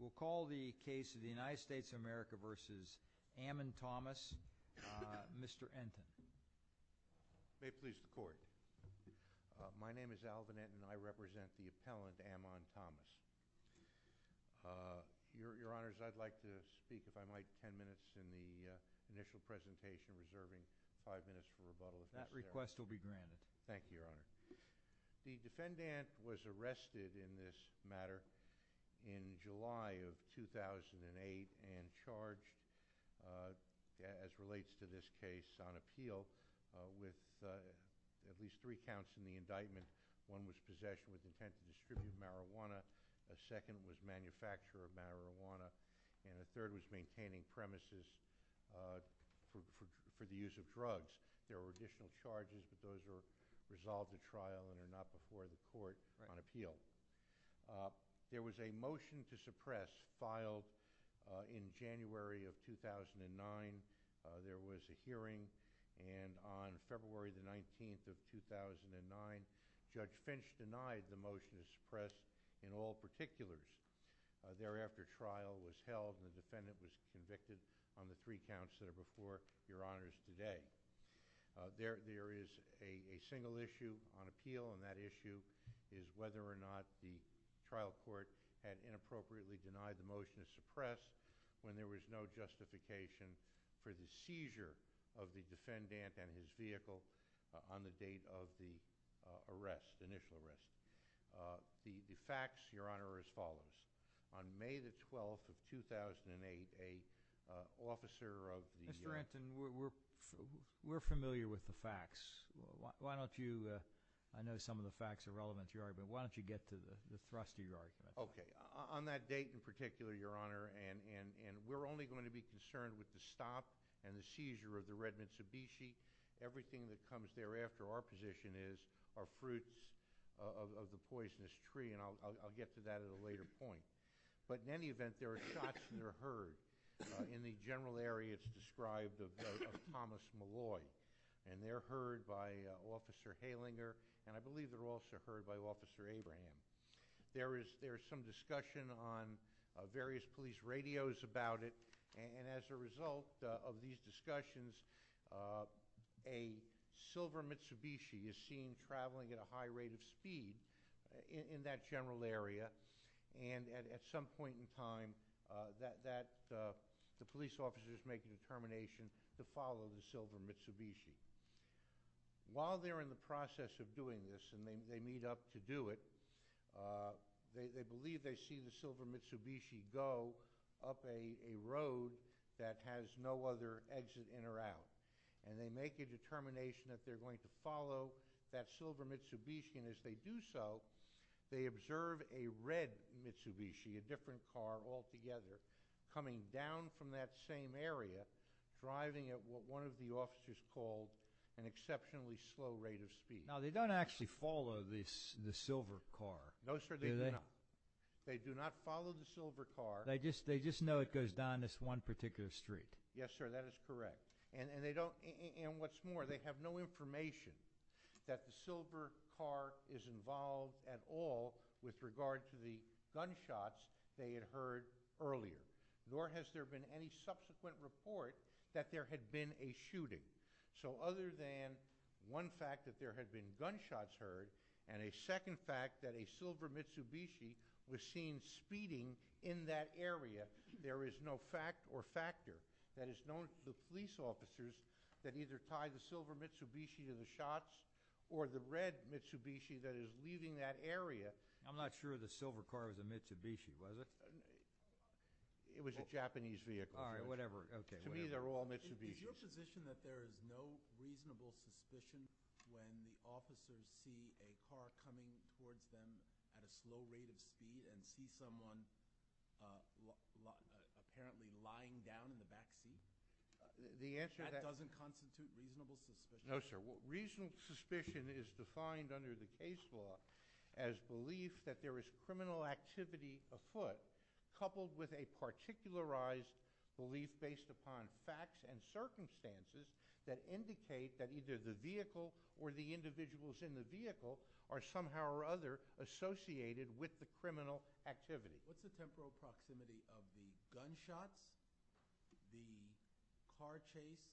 We'll call the case of the United States of America v. Ammon Thomas, Mr. Enten. May it please the Court. My name is Alvin Enten and I represent the appellant, Ammon Thomas. Your Honor, I'd like to speak, if I might, ten minutes in the initial presentation, reserving five minutes for rebuttal. That request will be granted. Thank you, Your Honor. The defendant was arrested in this matter in July of 2008 and charged, as relates to this case, on appeal with at least three counts in the indictment. One was possession with intent to distribute marijuana. A second was manufacture of marijuana. And a third was maintaining premises for the use of drugs. There were additional charges, but those were resolved at trial and are not before the Court on appeal. There was a motion to suppress filed in January of 2009. There was a hearing, and on February 19, 2009, Judge Finch denied the motion to suppress in all particulars. Thereafter, trial was held and the defendant was convicted on the three counts that are before Your Honor's today. There is a single issue on appeal, and that issue is whether or not the trial court had inappropriately denied the motion to suppress when there was no justification for the seizure of the defendant and his vehicle on the date of the arrest, initial arrest. The facts, Your Honor, are as follows. On May 12, 2008, an officer of the Yard... Mr. Anson, we're familiar with the facts. Why don't you... I know some of the facts are relevant to your argument, but why don't you get to the thrust of your argument? Okay. On that date in particular, Your Honor, and we're only going to be concerned with the stop and the seizure of the red Mitsubishi. Everything that comes thereafter, our position is, are fruits of the poisonous tree, and I'll get to that at a later point. But in any event, there are shots that are heard. In the general area, it's described of Thomas Malloy, and they're heard by Officer Halinger, and I believe they're also heard by Officer Abraham. There is some discussion on various police radios about it, and as a result of these discussions, a silver Mitsubishi is seen traveling at a high rate of speed in that general area, and at some point in time, the police officer is making a determination to follow the silver Mitsubishi. While they're in the process of doing this, and they meet up to do it, they believe they see the silver Mitsubishi go up a road that has no other exit in or out, and they make a determination that they're going to follow that silver Mitsubishi, and as they do so, they observe a red Mitsubishi, a different car altogether, coming down from that same area, driving at what one of the officers called an exceptionally slow rate of speed. Now, they don't actually follow the silver car, do they? No, sir, they do not. They do not follow the silver car. They just know it goes down this one particular street. Yes, sir, that is correct. And what's more, they have no information that the silver car is involved at all with regard to the gunshots they had heard earlier, nor has there been any subsequent report that there had been a shooting. So other than one fact that there had been gunshots heard, and a second fact that a silver Mitsubishi was seen speeding in that area, there is no fact or factor that is known to the police officers that either tied the silver Mitsubishi to the shots, or the red Mitsubishi that is leaving that area. I'm not sure the silver car was a Mitsubishi, was it? It was a Japanese vehicle. All right, whatever. To me, they're all Mitsubishis. Is your position that there is no reasonable suspicion when the officers see a car coming towards them at a slow rate of speed and see someone apparently lying down in the back seat? That doesn't constitute reasonable suspicion? No, sir. Reasonable suspicion is defined under the case law as belief that there is criminal activity afoot, coupled with a particularized belief based upon facts and circumstances that indicate that either the vehicle or the individuals in the vehicle are somehow or other associated with the criminal activity. What's the temporal proximity of the gunshots, the car chase,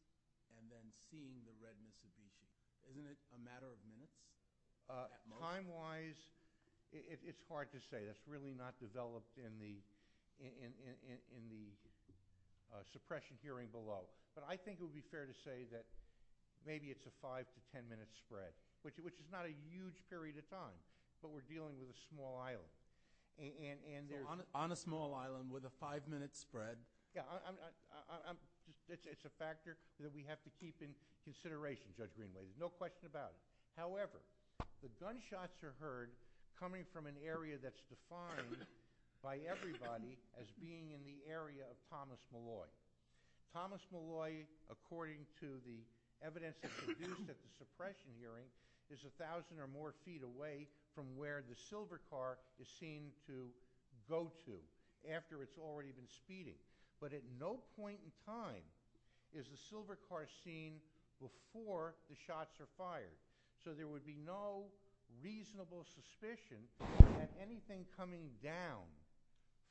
and then seeing the red Mitsubishi? Isn't it a matter of minutes? Time-wise, it's hard to say. That's really not developed in the suppression hearing below. But I think it would be fair to say that maybe it's a 5 to 10-minute spread, which is not a huge period of time, but we're dealing with a small island. On a small island with a 5-minute spread? It's a factor that we have to keep in consideration, Judge Greenway. There's no question about it. However, the gunshots are heard coming from an area that's defined by everybody as being in the area of Thomas Malloy. Thomas Malloy, according to the evidence that's produced at the suppression hearing, is 1,000 or more feet away from where the silver car is seen to go to after it's already been speeding. But at no point in time is the silver car seen before the shots are fired. So there would be no reasonable suspicion that anything coming down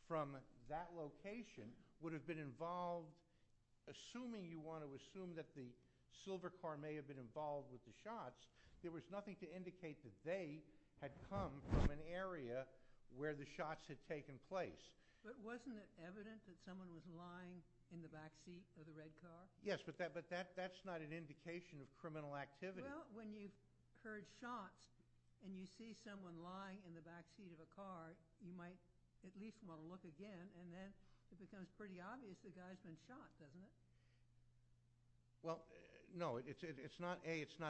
from that location would have been involved, assuming you want to assume that the silver car may have been involved with the shots. There was nothing to indicate that they had come from an area where the shots had taken place. But wasn't it evident that someone was lying in the back seat of the red car? Yes, but that's not an indication of criminal activity. Well, when you've heard shots and you see someone lying in the back seat of a car, you might at least want to look again. And then it becomes pretty obvious the guy's been shot, doesn't it? Well, no. A, it's not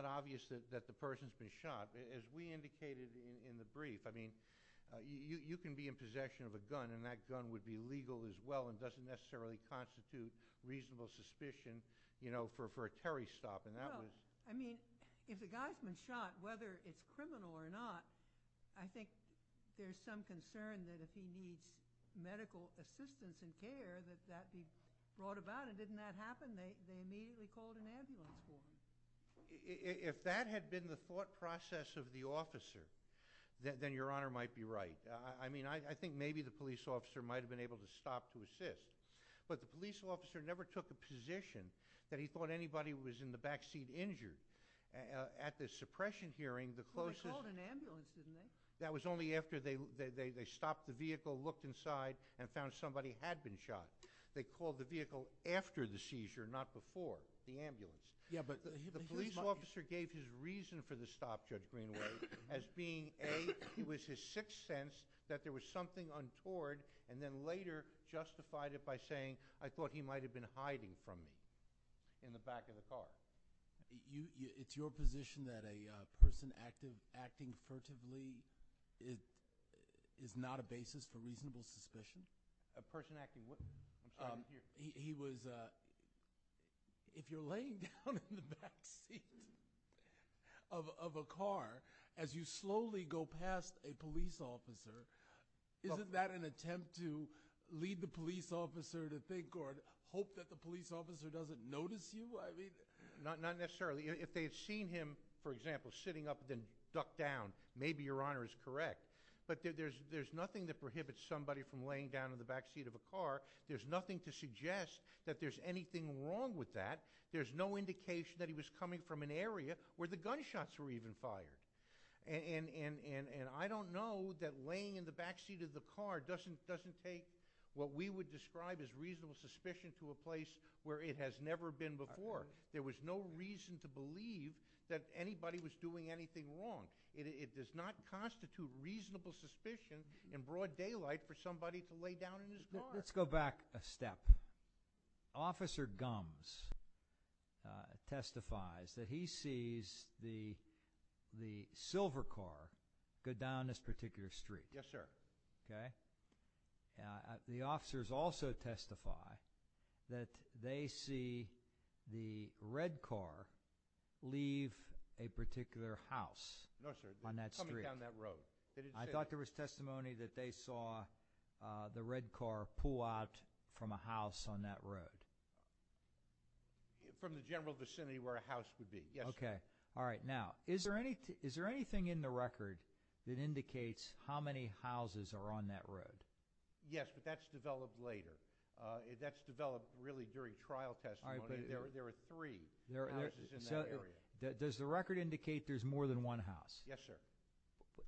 obvious that the person's been shot. As we indicated in the brief, I mean, you can be in possession of a gun, and that gun would be legal as well and doesn't necessarily constitute reasonable suspicion for a Terry stop. Well, I mean, if the guy's been shot, whether it's criminal or not, I think there's some concern that if he needs medical assistance and care that that be brought about. And didn't that happen? They immediately called an ambulance for him. If that had been the thought process of the officer, then Your Honor might be right. I mean, I think maybe the police officer might have been able to stop to assist. But the police officer never took a position that he thought anybody was in the back seat injured. At the suppression hearing, the closest... Well, they called an ambulance, didn't they? That was only after they stopped the vehicle, looked inside, and found somebody had been shot. They called the vehicle after the seizure, not before, the ambulance. The police officer gave his reason for the stop, Judge Greenway, as being A, it was his sixth sense that there was something untoward, and then later justified it by saying, I thought he might have been hiding from me in the back of the car. It's your position that a person acting furtively is not a basis for reasonable suspicion? A person acting what? He was... If you're laying down in the back seat of a car as you slowly go past a police officer, isn't that an attempt to lead the police officer to think or hope that the police officer doesn't notice you? Not necessarily. If they had seen him, for example, sitting up and then ducked down, maybe Your Honor is correct, but there's nothing that prohibits somebody from laying down in the back seat of a car. There's nothing to suggest that there's anything wrong with that. There's no indication that he was coming from an area where the gunshots were even fired. And I don't know that laying in the back seat of the car doesn't take what we would describe as reasonable suspicion to a place where it has never been before. There was no reason to believe that anybody was doing anything wrong. It does not constitute reasonable suspicion in broad daylight for somebody to lay down in his car. Let's go back a step. Officer Gumbs testifies that he sees the silver car go down this particular street. Yes, sir. Okay. The officers also testify that they see the red car leave a particular house on that street. No, sir. Coming down that road. I thought there was testimony that they saw the red car pull out from a house on that road. From the general vicinity where a house would be. Yes, sir. Okay. All right. Now, is there anything in the record that indicates how many houses are on that road? Yes, but that's developed later. That's developed really during trial testimony. There were three houses in that area. Does the record indicate there's more than one house? Yes, sir.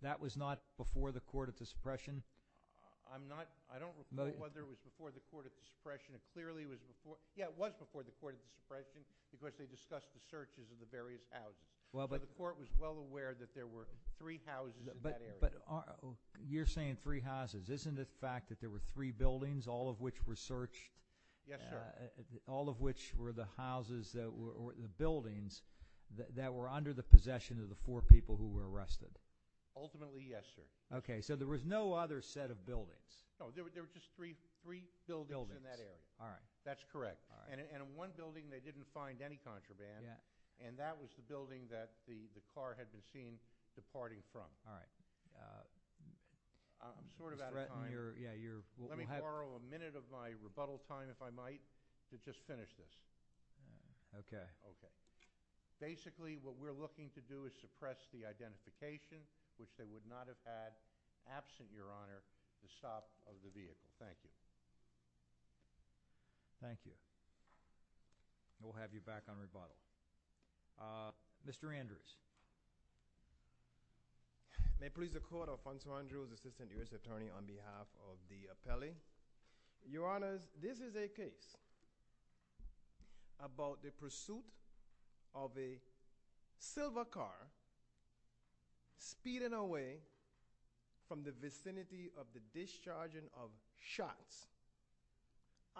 That was not before the Court of Dispression? I don't know whether it was before the Court of Dispression. Yes, it was before the Court of Dispression because they discussed the searches of the various houses. The Court was well aware that there were three houses in that area. But you're saying three houses. Isn't it a fact that there were three buildings, all of which were searched? Yes, sir. All of which were the houses that were under the possession of the four people who were arrested? Ultimately, yes, sir. Okay. So there was no other set of buildings? No, there were just three buildings in that area. That's correct. And in one building, they didn't find any contraband, and that was the building that the car had been seen departing from. All right. I'm sort of out of time. Let me borrow a minute of my rebuttal time, if I might, to just finish this. Okay. Basically, what we're looking to do is suppress the identification, which they would not have had absent, Your Honor, the stop of the vehicle. Thank you. Thank you. We'll have you back on rebuttal. Mr. Andrews. May it please the Court, Alfonso Andrews, Assistant U.S. Attorney, on behalf of the appellee. Your Honors, this is a case about the pursuit of a silver car speeding away from the vicinity of the discharging of shots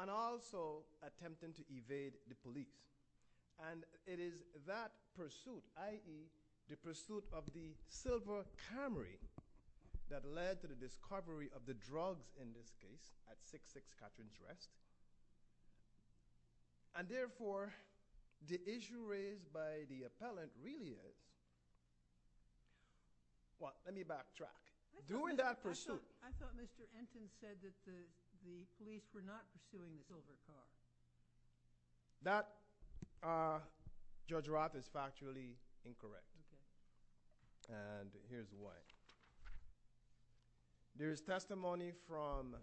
and also attempting to evade the police. And it is that pursuit, i.e., the pursuit of the silver Camry that led to the discovery of the drugs in this case, at 6-6 Catrins Rest. And therefore, the issue raised by the appellant really is, well, let me backtrack. During that pursuit. I thought Mr. Ensign said that the police were not pursuing the silver car. That, Judge Roth, is factually incorrect. And here's why. There is testimony from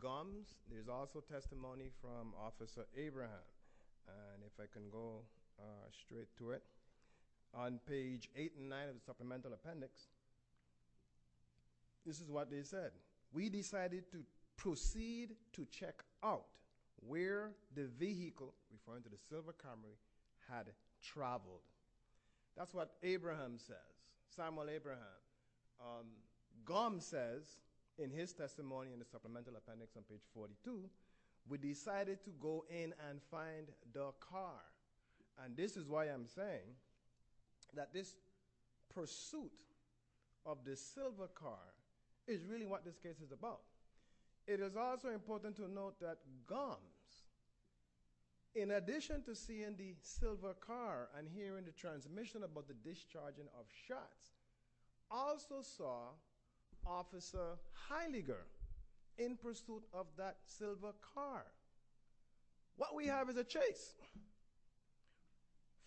Gums. There is also testimony from Officer Abraham. And if I can go straight to it. On page 8 and 9 of the supplemental appendix, this is what they said. We decided to proceed to check out where the vehicle, referring to the silver Camry, had traveled. That's what Abraham says. Samuel Abraham. Gums says, in his testimony in the supplemental appendix on page 42, we decided to go in and find the car. And this is why I'm saying that this pursuit of the silver car is really what this case is about. It is also important to note that Gums, in addition to seeing the silver car and hearing the transmission about the discharging of shots, also saw Officer Heidegger in pursuit of that silver car. What we have is a chase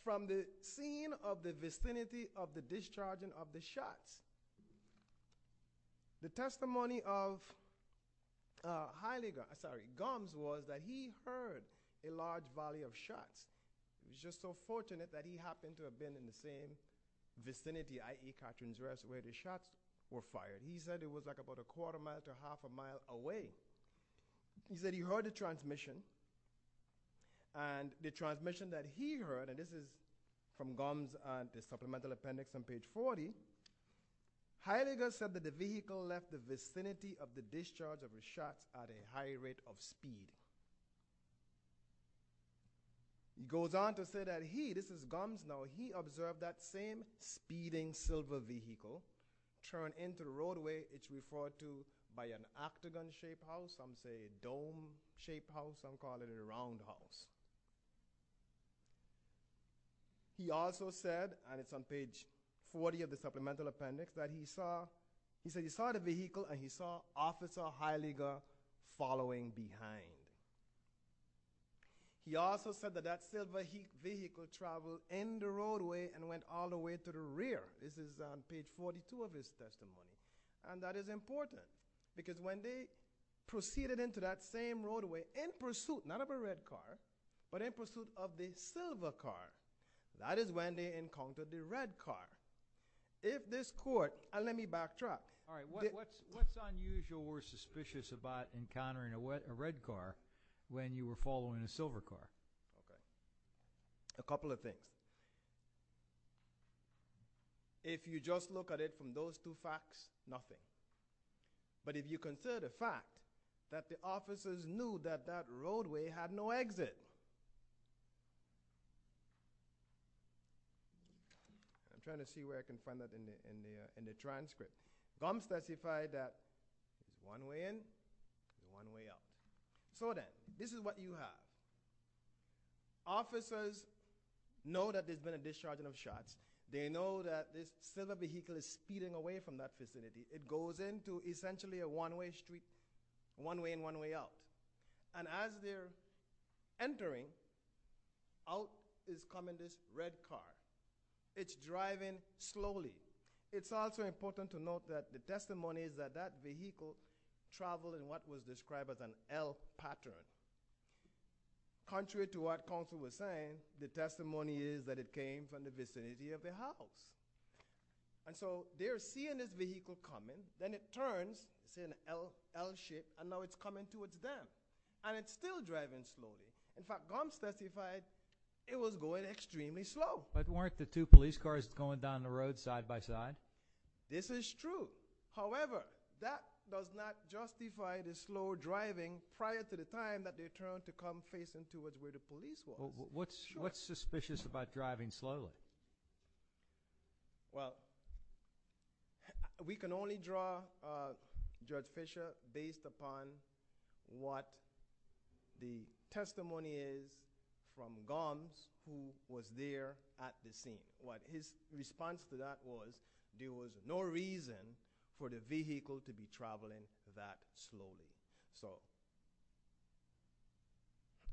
from the scene of the vicinity of the discharging of the shots. The testimony of Gums was that he heard a large valley of shots. He was just so fortunate that he happened to have been in the same vicinity, i.e. Catherine's Rest, where the shots were fired. He said it was about a quarter mile to half a mile away. He said he heard the transmission, and the transmission that he heard, and this is from Gums in the supplemental appendix on page 40, Heidegger said that the vehicle left the vicinity of the discharge of the shots at a high rate of speed. He goes on to say that he, this is Gums now, he observed that same speeding silver vehicle turn into the roadway, it's referred to by an octagon-shaped house, some say dome-shaped house, some call it a roundhouse. He also said, and it's on page 40 of the supplemental appendix, that he saw, he said he saw the vehicle and he saw Officer Heidegger following behind. He also said that that silver vehicle traveled in the roadway and went all the way to the rear. This is on page 42 of his testimony. And that is important, because when they proceeded into that same roadway, in pursuit, not of a red car, but in pursuit of the silver car, that is when they encountered the red car. If this court, and let me backtrack. What's unusual or suspicious about encountering a red car when you were following a silver car? A couple of things. If you just look at it from those two facts, nothing. But if you consider the fact that the officers knew that that roadway had no exit. I'm trying to see where I can find that in the transcript. Gums specified that one way in, one way out. So then, this is what you have. Officers know that there's been a discharging of shots. They know that this silver vehicle is speeding away from that vicinity. It goes into essentially a one-way street, one way in, one way out. And as they're entering, out is coming this red car. It's driving slowly. It's also important to note that the testimony is that that vehicle traveled in what was described as an L pattern. Contrary to what counsel was saying, the testimony is that it came from the vicinity of the house. And so, they're seeing this vehicle coming. Then it turns, see an L shape, and now it's coming towards them. And it's still driving slowly. In fact, Gums testified it was going extremely slow. But weren't the two police cars going down the road side by side? This is true. However, that does not justify the slow driving prior to the time that they turned to come facing towards where the police were. What's suspicious about driving slowly? Well, we can only draw Judge Fisher based upon what the testimony is from Gums who was there at the scene. His response to that was there was no reason for the vehicle to be traveling that slowly. So,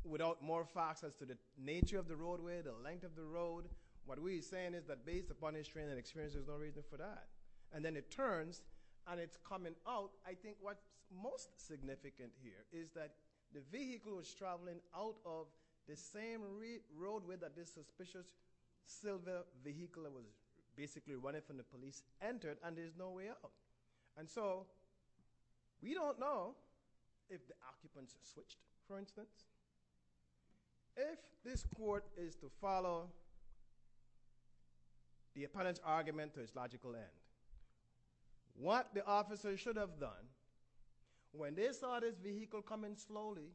without more facts as to the nature of the roadway, the length of the road, what we're saying is that based upon his training and experience, there's no reason for that. And then it turns, and it's coming out. I think what's most significant here is that the vehicle was traveling out of the same roadway that this suspicious silver vehicle that was basically running from the police entered, and there's no way out. And so, we don't know if the occupants switched, for instance. If this court is to follow the opponent's argument to its logical end, what the officer should have done when they saw this vehicle coming slowly,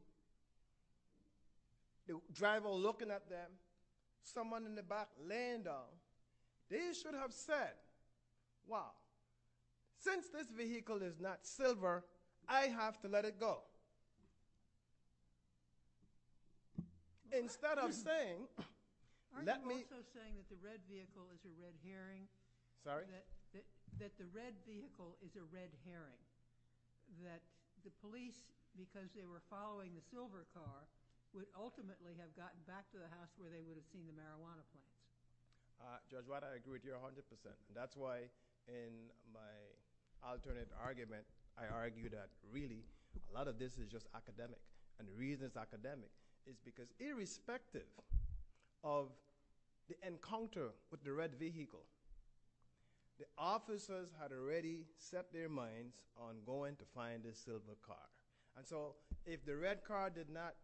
the driver looking at them, someone in the back laying down, they should have said, wow, since this vehicle is not silver, I have to let it go. Instead of saying, let me- that the red vehicle is a red herring. That the police, because they were following the silver car, would ultimately have gotten back to the house where they would have seen the marijuana plant. Judge White, I agree with you 100%. That's why in my alternate argument, I argue that really a lot of this is just academic. And the reason it's academic is because irrespective of the encounter with the red vehicle, the officers had already set their minds on going to find this silver car. And so, if the red car did not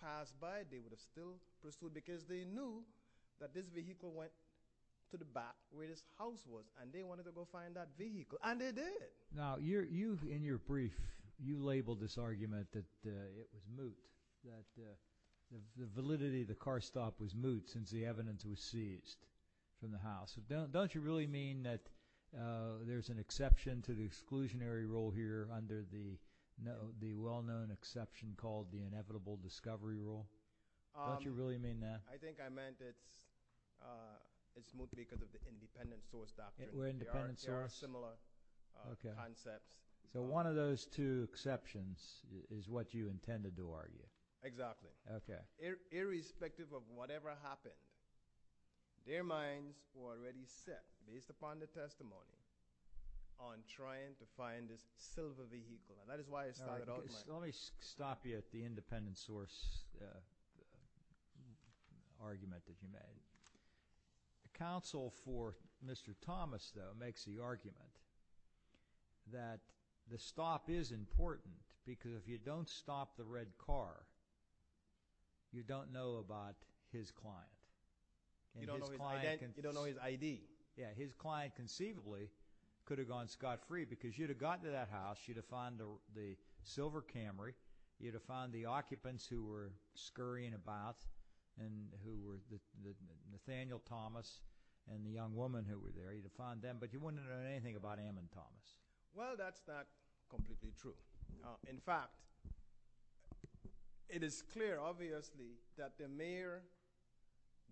pass by, they would have still pursued, because they knew that this vehicle went to the back where this house was, and they wanted to go find that vehicle, and they did. Now, you, in your brief, you labeled this argument that it was moot, that the validity of the car stop was moot since the evidence was seized from the house. Don't you really mean that there's an exception to the exclusionary rule here under the well-known exception called the inevitable discovery rule? Don't you really mean that? I think I meant it's moot because of the independent source doctrine. They are similar concepts. So one of those two exceptions is what you intended to argue. Exactly. Okay. Irrespective of whatever happened, their minds were already set, based upon the testimony, on trying to find this silver vehicle. And that is why it started out like that. Let me stop you at the independent source argument that you made. The counsel for Mr. Thomas, though, makes the argument that the stop is important because if you don't stop the red car, you don't know about his client. You don't know his ID. Yeah, his client conceivably could have gone scot-free because you'd have gotten to that house, you'd have found the silver Camry, you'd have found the occupants who were scurrying about, Nathaniel Thomas and the young woman who were there, you'd have found them, but you wouldn't have known anything about Ammon Thomas. Well, that's not completely true. In fact, it is clear, obviously, that the mere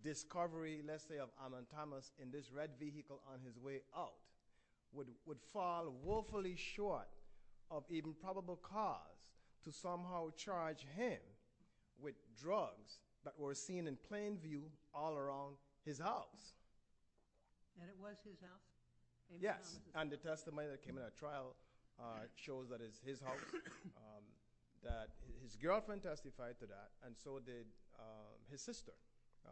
discovery, let's say, of Ammon Thomas in this red vehicle on his way out would fall woefully short of even probable cause to somehow charge him with drugs that were seen in plain view all around his house. And it was his house? Yes. And the testimony that came in that trial shows that it's his house, that his girlfriend testified to that, and so did his sister,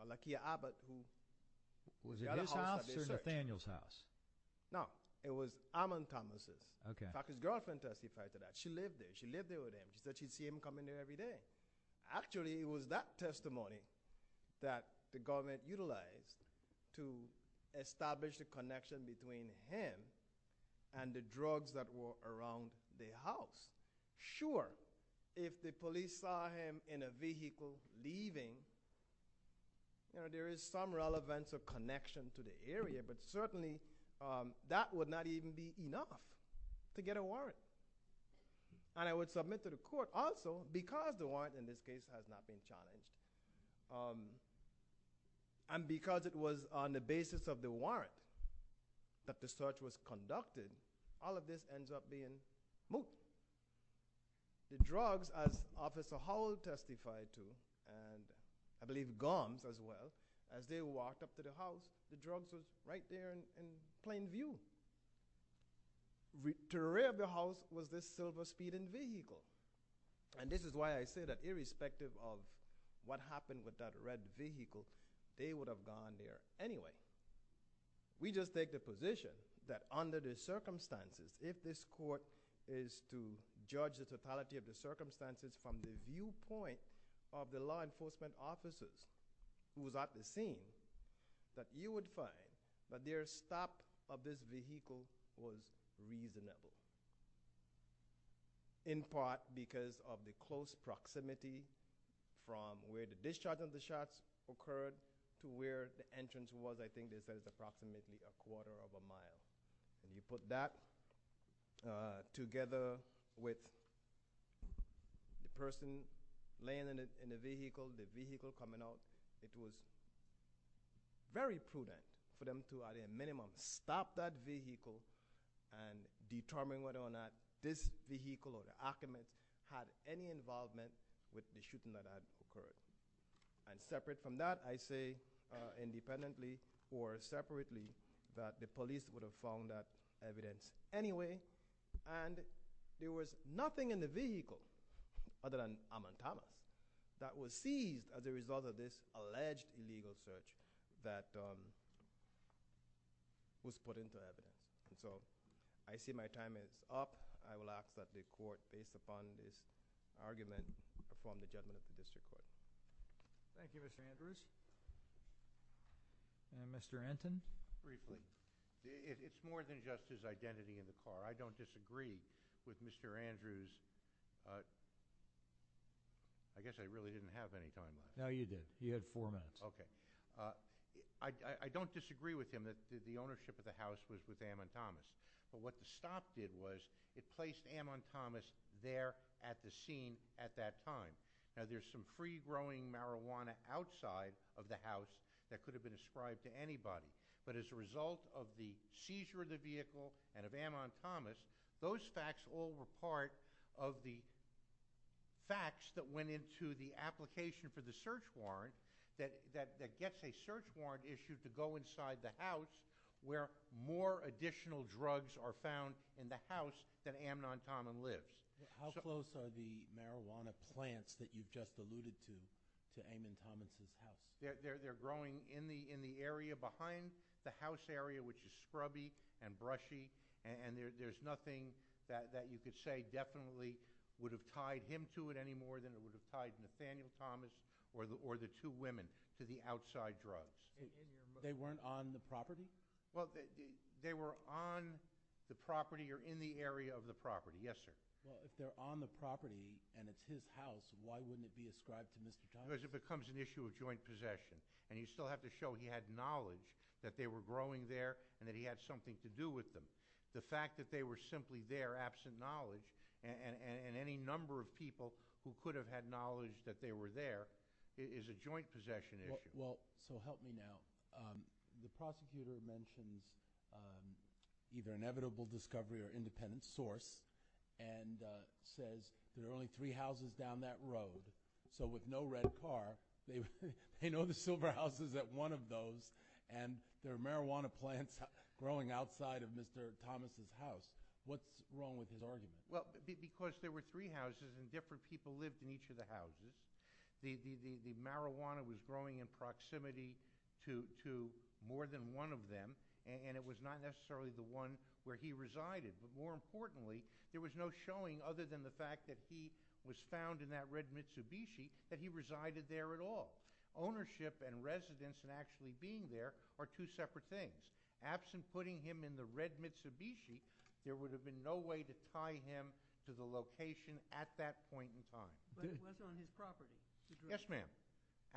Lakia Abbott. Was it his house or Nathaniel's house? No, it was Ammon Thomas'. Okay. In fact, his girlfriend testified to that. She lived there. She lived there with him. She said she'd see him come in there every day. Actually, it was that testimony that the government utilized to establish the connection between him and the drugs that were around the house. Sure, if the police saw him in a vehicle leaving, there is some relevance of connection to the area, but certainly that would not even be enough to get a warrant. And I would submit to the court also, because the warrant in this case has not been challenged, and because it was on the basis of the warrant that the search was conducted, all of this ends up being moot. The drugs, as Officer Howell testified to, and I believe Gomes as well, as they walked up to the house, the drugs were right there in plain view. To the rear of the house was this silver speeding vehicle. And this is why I say that irrespective of what happened with that red vehicle, they would have gone there anyway. We just take the position that under the circumstances, if this court is to judge the totality of the circumstances from the viewpoint of the law enforcement officers who was at the scene, that you would find that their stop of this vehicle was reasonable. In part because of the close proximity from where the discharge of the shots occurred to where the entrance was. I think they said it was approximately a quarter of a mile. When you put that together with the person laying in the vehicle, the vehicle coming out, it was very prudent for them to at a minimum stop that vehicle and determine whether or not this vehicle or the occupant had any involvement with the shooting that had occurred. And separate from that, I say independently or separately, that the police would have found that evidence anyway. And there was nothing in the vehicle other than amatama that was seized as a result of this alleged illegal search that was put into evidence. So I see my time is up. I will ask that the court, based upon this argument, perform the judgment of the district court. Thank you, Mr. Andrews. And Mr. Anton? It's more than just his identity in the car. I don't disagree with Mr. Andrews. I guess I really didn't have any time. No, you did. You had four minutes. Okay. I don't disagree with him that the ownership of the house was with amatamas. But what the stop did was it placed amatamas there at the scene at that time. Now, there's some free-growing marijuana outside of the house that could have been ascribed to anybody. But as a result of the seizure of the vehicle and of amatamas, those facts all were part of the facts that went into the application for the search warrant that gets a search warrant issued to go inside the house where more additional drugs are found in the house that amatama lives. How close are the marijuana plants that you just alluded to, to amatamas' house? They're growing in the area behind the house area, which is scrubby and brushy, and there's nothing that you could say definitely would have tied him to it any more than it would have tied Nathaniel Thomas or the two women to the outside drugs. They weren't on the property? Well, they were on the property or in the area of the property, yes, sir. Well, if they're on the property and it's his house, why wouldn't it be ascribed to Mr. Thomas? Because it becomes an issue of joint possession, and you still have to show he had knowledge that they were growing there and that he had something to do with them. The fact that they were simply there absent knowledge and any number of people who could have had knowledge that they were there is a joint possession issue. Well, so help me now. The prosecutor mentions either inevitable discovery or independent source and says there are only three houses down that road. So with no red car, they know the silver house is at one of those and there are marijuana plants growing outside of Mr. Thomas' house. What's wrong with his argument? Well, because there were three houses and different people lived in each of the houses. The marijuana was growing in proximity to more than one of them, and it was not necessarily the one where he resided. But more importantly, there was no showing other than the fact that he was found in that red Mitsubishi that he resided there at all. Ownership and residence and actually being there are two separate things. Absent putting him in the red Mitsubishi, there would have been no way to tie him to the location at that point in time. But it was on his property. Yes, ma'am.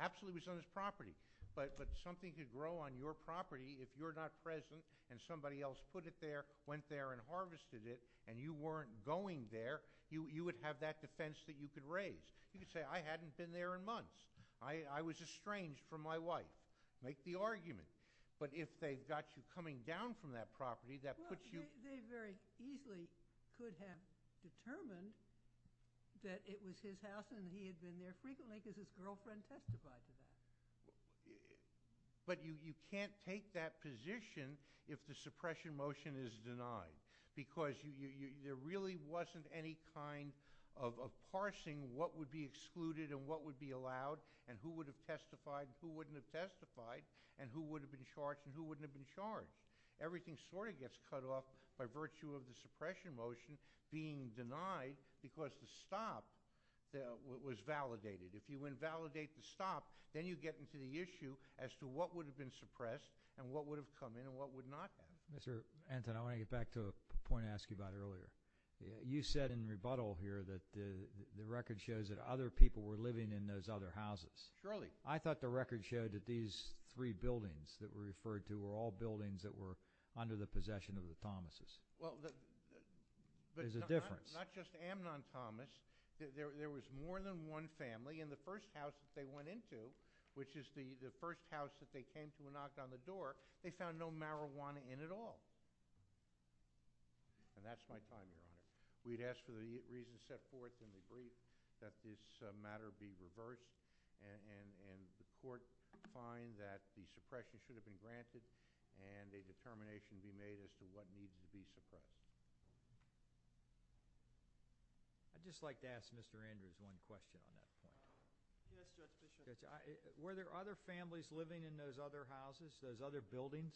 Absolutely it was on his property. But something could grow on your property if you're not present and somebody else put it there, went there and harvested it, and you weren't going there, you would have that defense that you could raise. You could say, I hadn't been there in months. I was estranged from my wife. Make the argument. But if they've got you coming down from that property, that puts you. Well, they very easily could have determined that it was his house and he had been there frequently because his girlfriend testified to that. But you can't take that position if the suppression motion is denied because there really wasn't any kind of parsing what would be excluded and what would be allowed and who would have testified and who wouldn't have testified and who would have been charged and who wouldn't have been charged. Everything sort of gets cut off by virtue of the suppression motion being denied because the stop was validated. If you invalidate the stop, then you get into the issue as to what would have been suppressed and what would have come in and what would not have. Mr. Anton, I want to get back to a point I asked you about earlier. You said in rebuttal here that the record shows that other people were living in those other houses. Surely. I thought the record showed that these three buildings that were referred to were all buildings that were under the possession of the Thomases. Well, the – There's a difference. Not just Amnon Thomas. There was more than one family. In the first house that they went into, which is the first house that they came to and knocked on the door, they found no marijuana in at all. And that's my time, Your Honor. We'd ask for the reason set forth in the brief that this matter be reversed and the court find that the suppression should have been granted and a determination be made as to what needed to be suppressed. I'd just like to ask Mr. Andrews one question on that. Were there other families living in those other houses, those other buildings?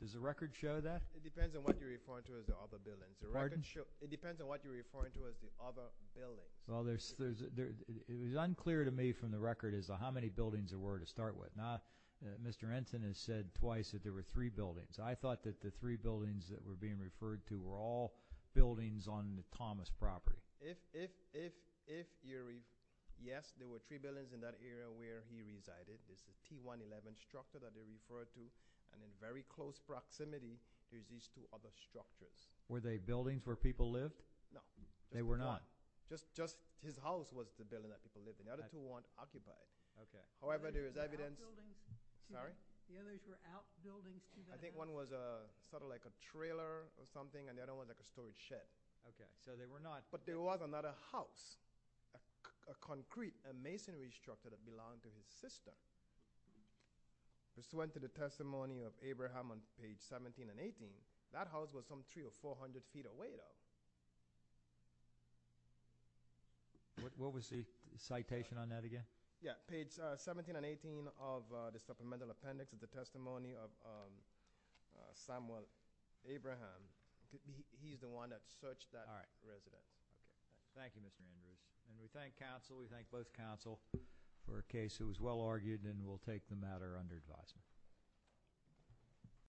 Does the record show that? It depends on what you're referring to as the other buildings. Pardon? It depends on what you're referring to as the other buildings. Well, it was unclear to me from the record as to how many buildings there were to start with. Mr. Anton has said twice that there were three buildings. I thought that the three buildings that were being referred to were all buildings on the Thomas property. If you're right, yes, there were three buildings in that area where he resided. It's the T-111 structure that they referred to. And in very close proximity is these two other structures. Were they buildings where people lived? No. They were not? Just his house was the building that people lived in. The other two weren't occupied. Okay. However, there is evidence. The others were outbuildings. I think one was sort of like a trailer or something, and the other one was like a storage shed. Okay. So they were not. But there was another house, a concrete, a masonry structure that belonged to his sister. This went to the testimony of Abraham on page 17 and 18. That house was some 300 or 400 feet away, though. What was the citation on that again? Yeah, page 17 and 18 of the supplemental appendix is the testimony of Samuel Abraham. He's the one that searched that residence. All right. Thank you, Mr. Andrews. And we thank counsel. We thank both counsel for a case that was well-argued, and we'll take the matter under advisement.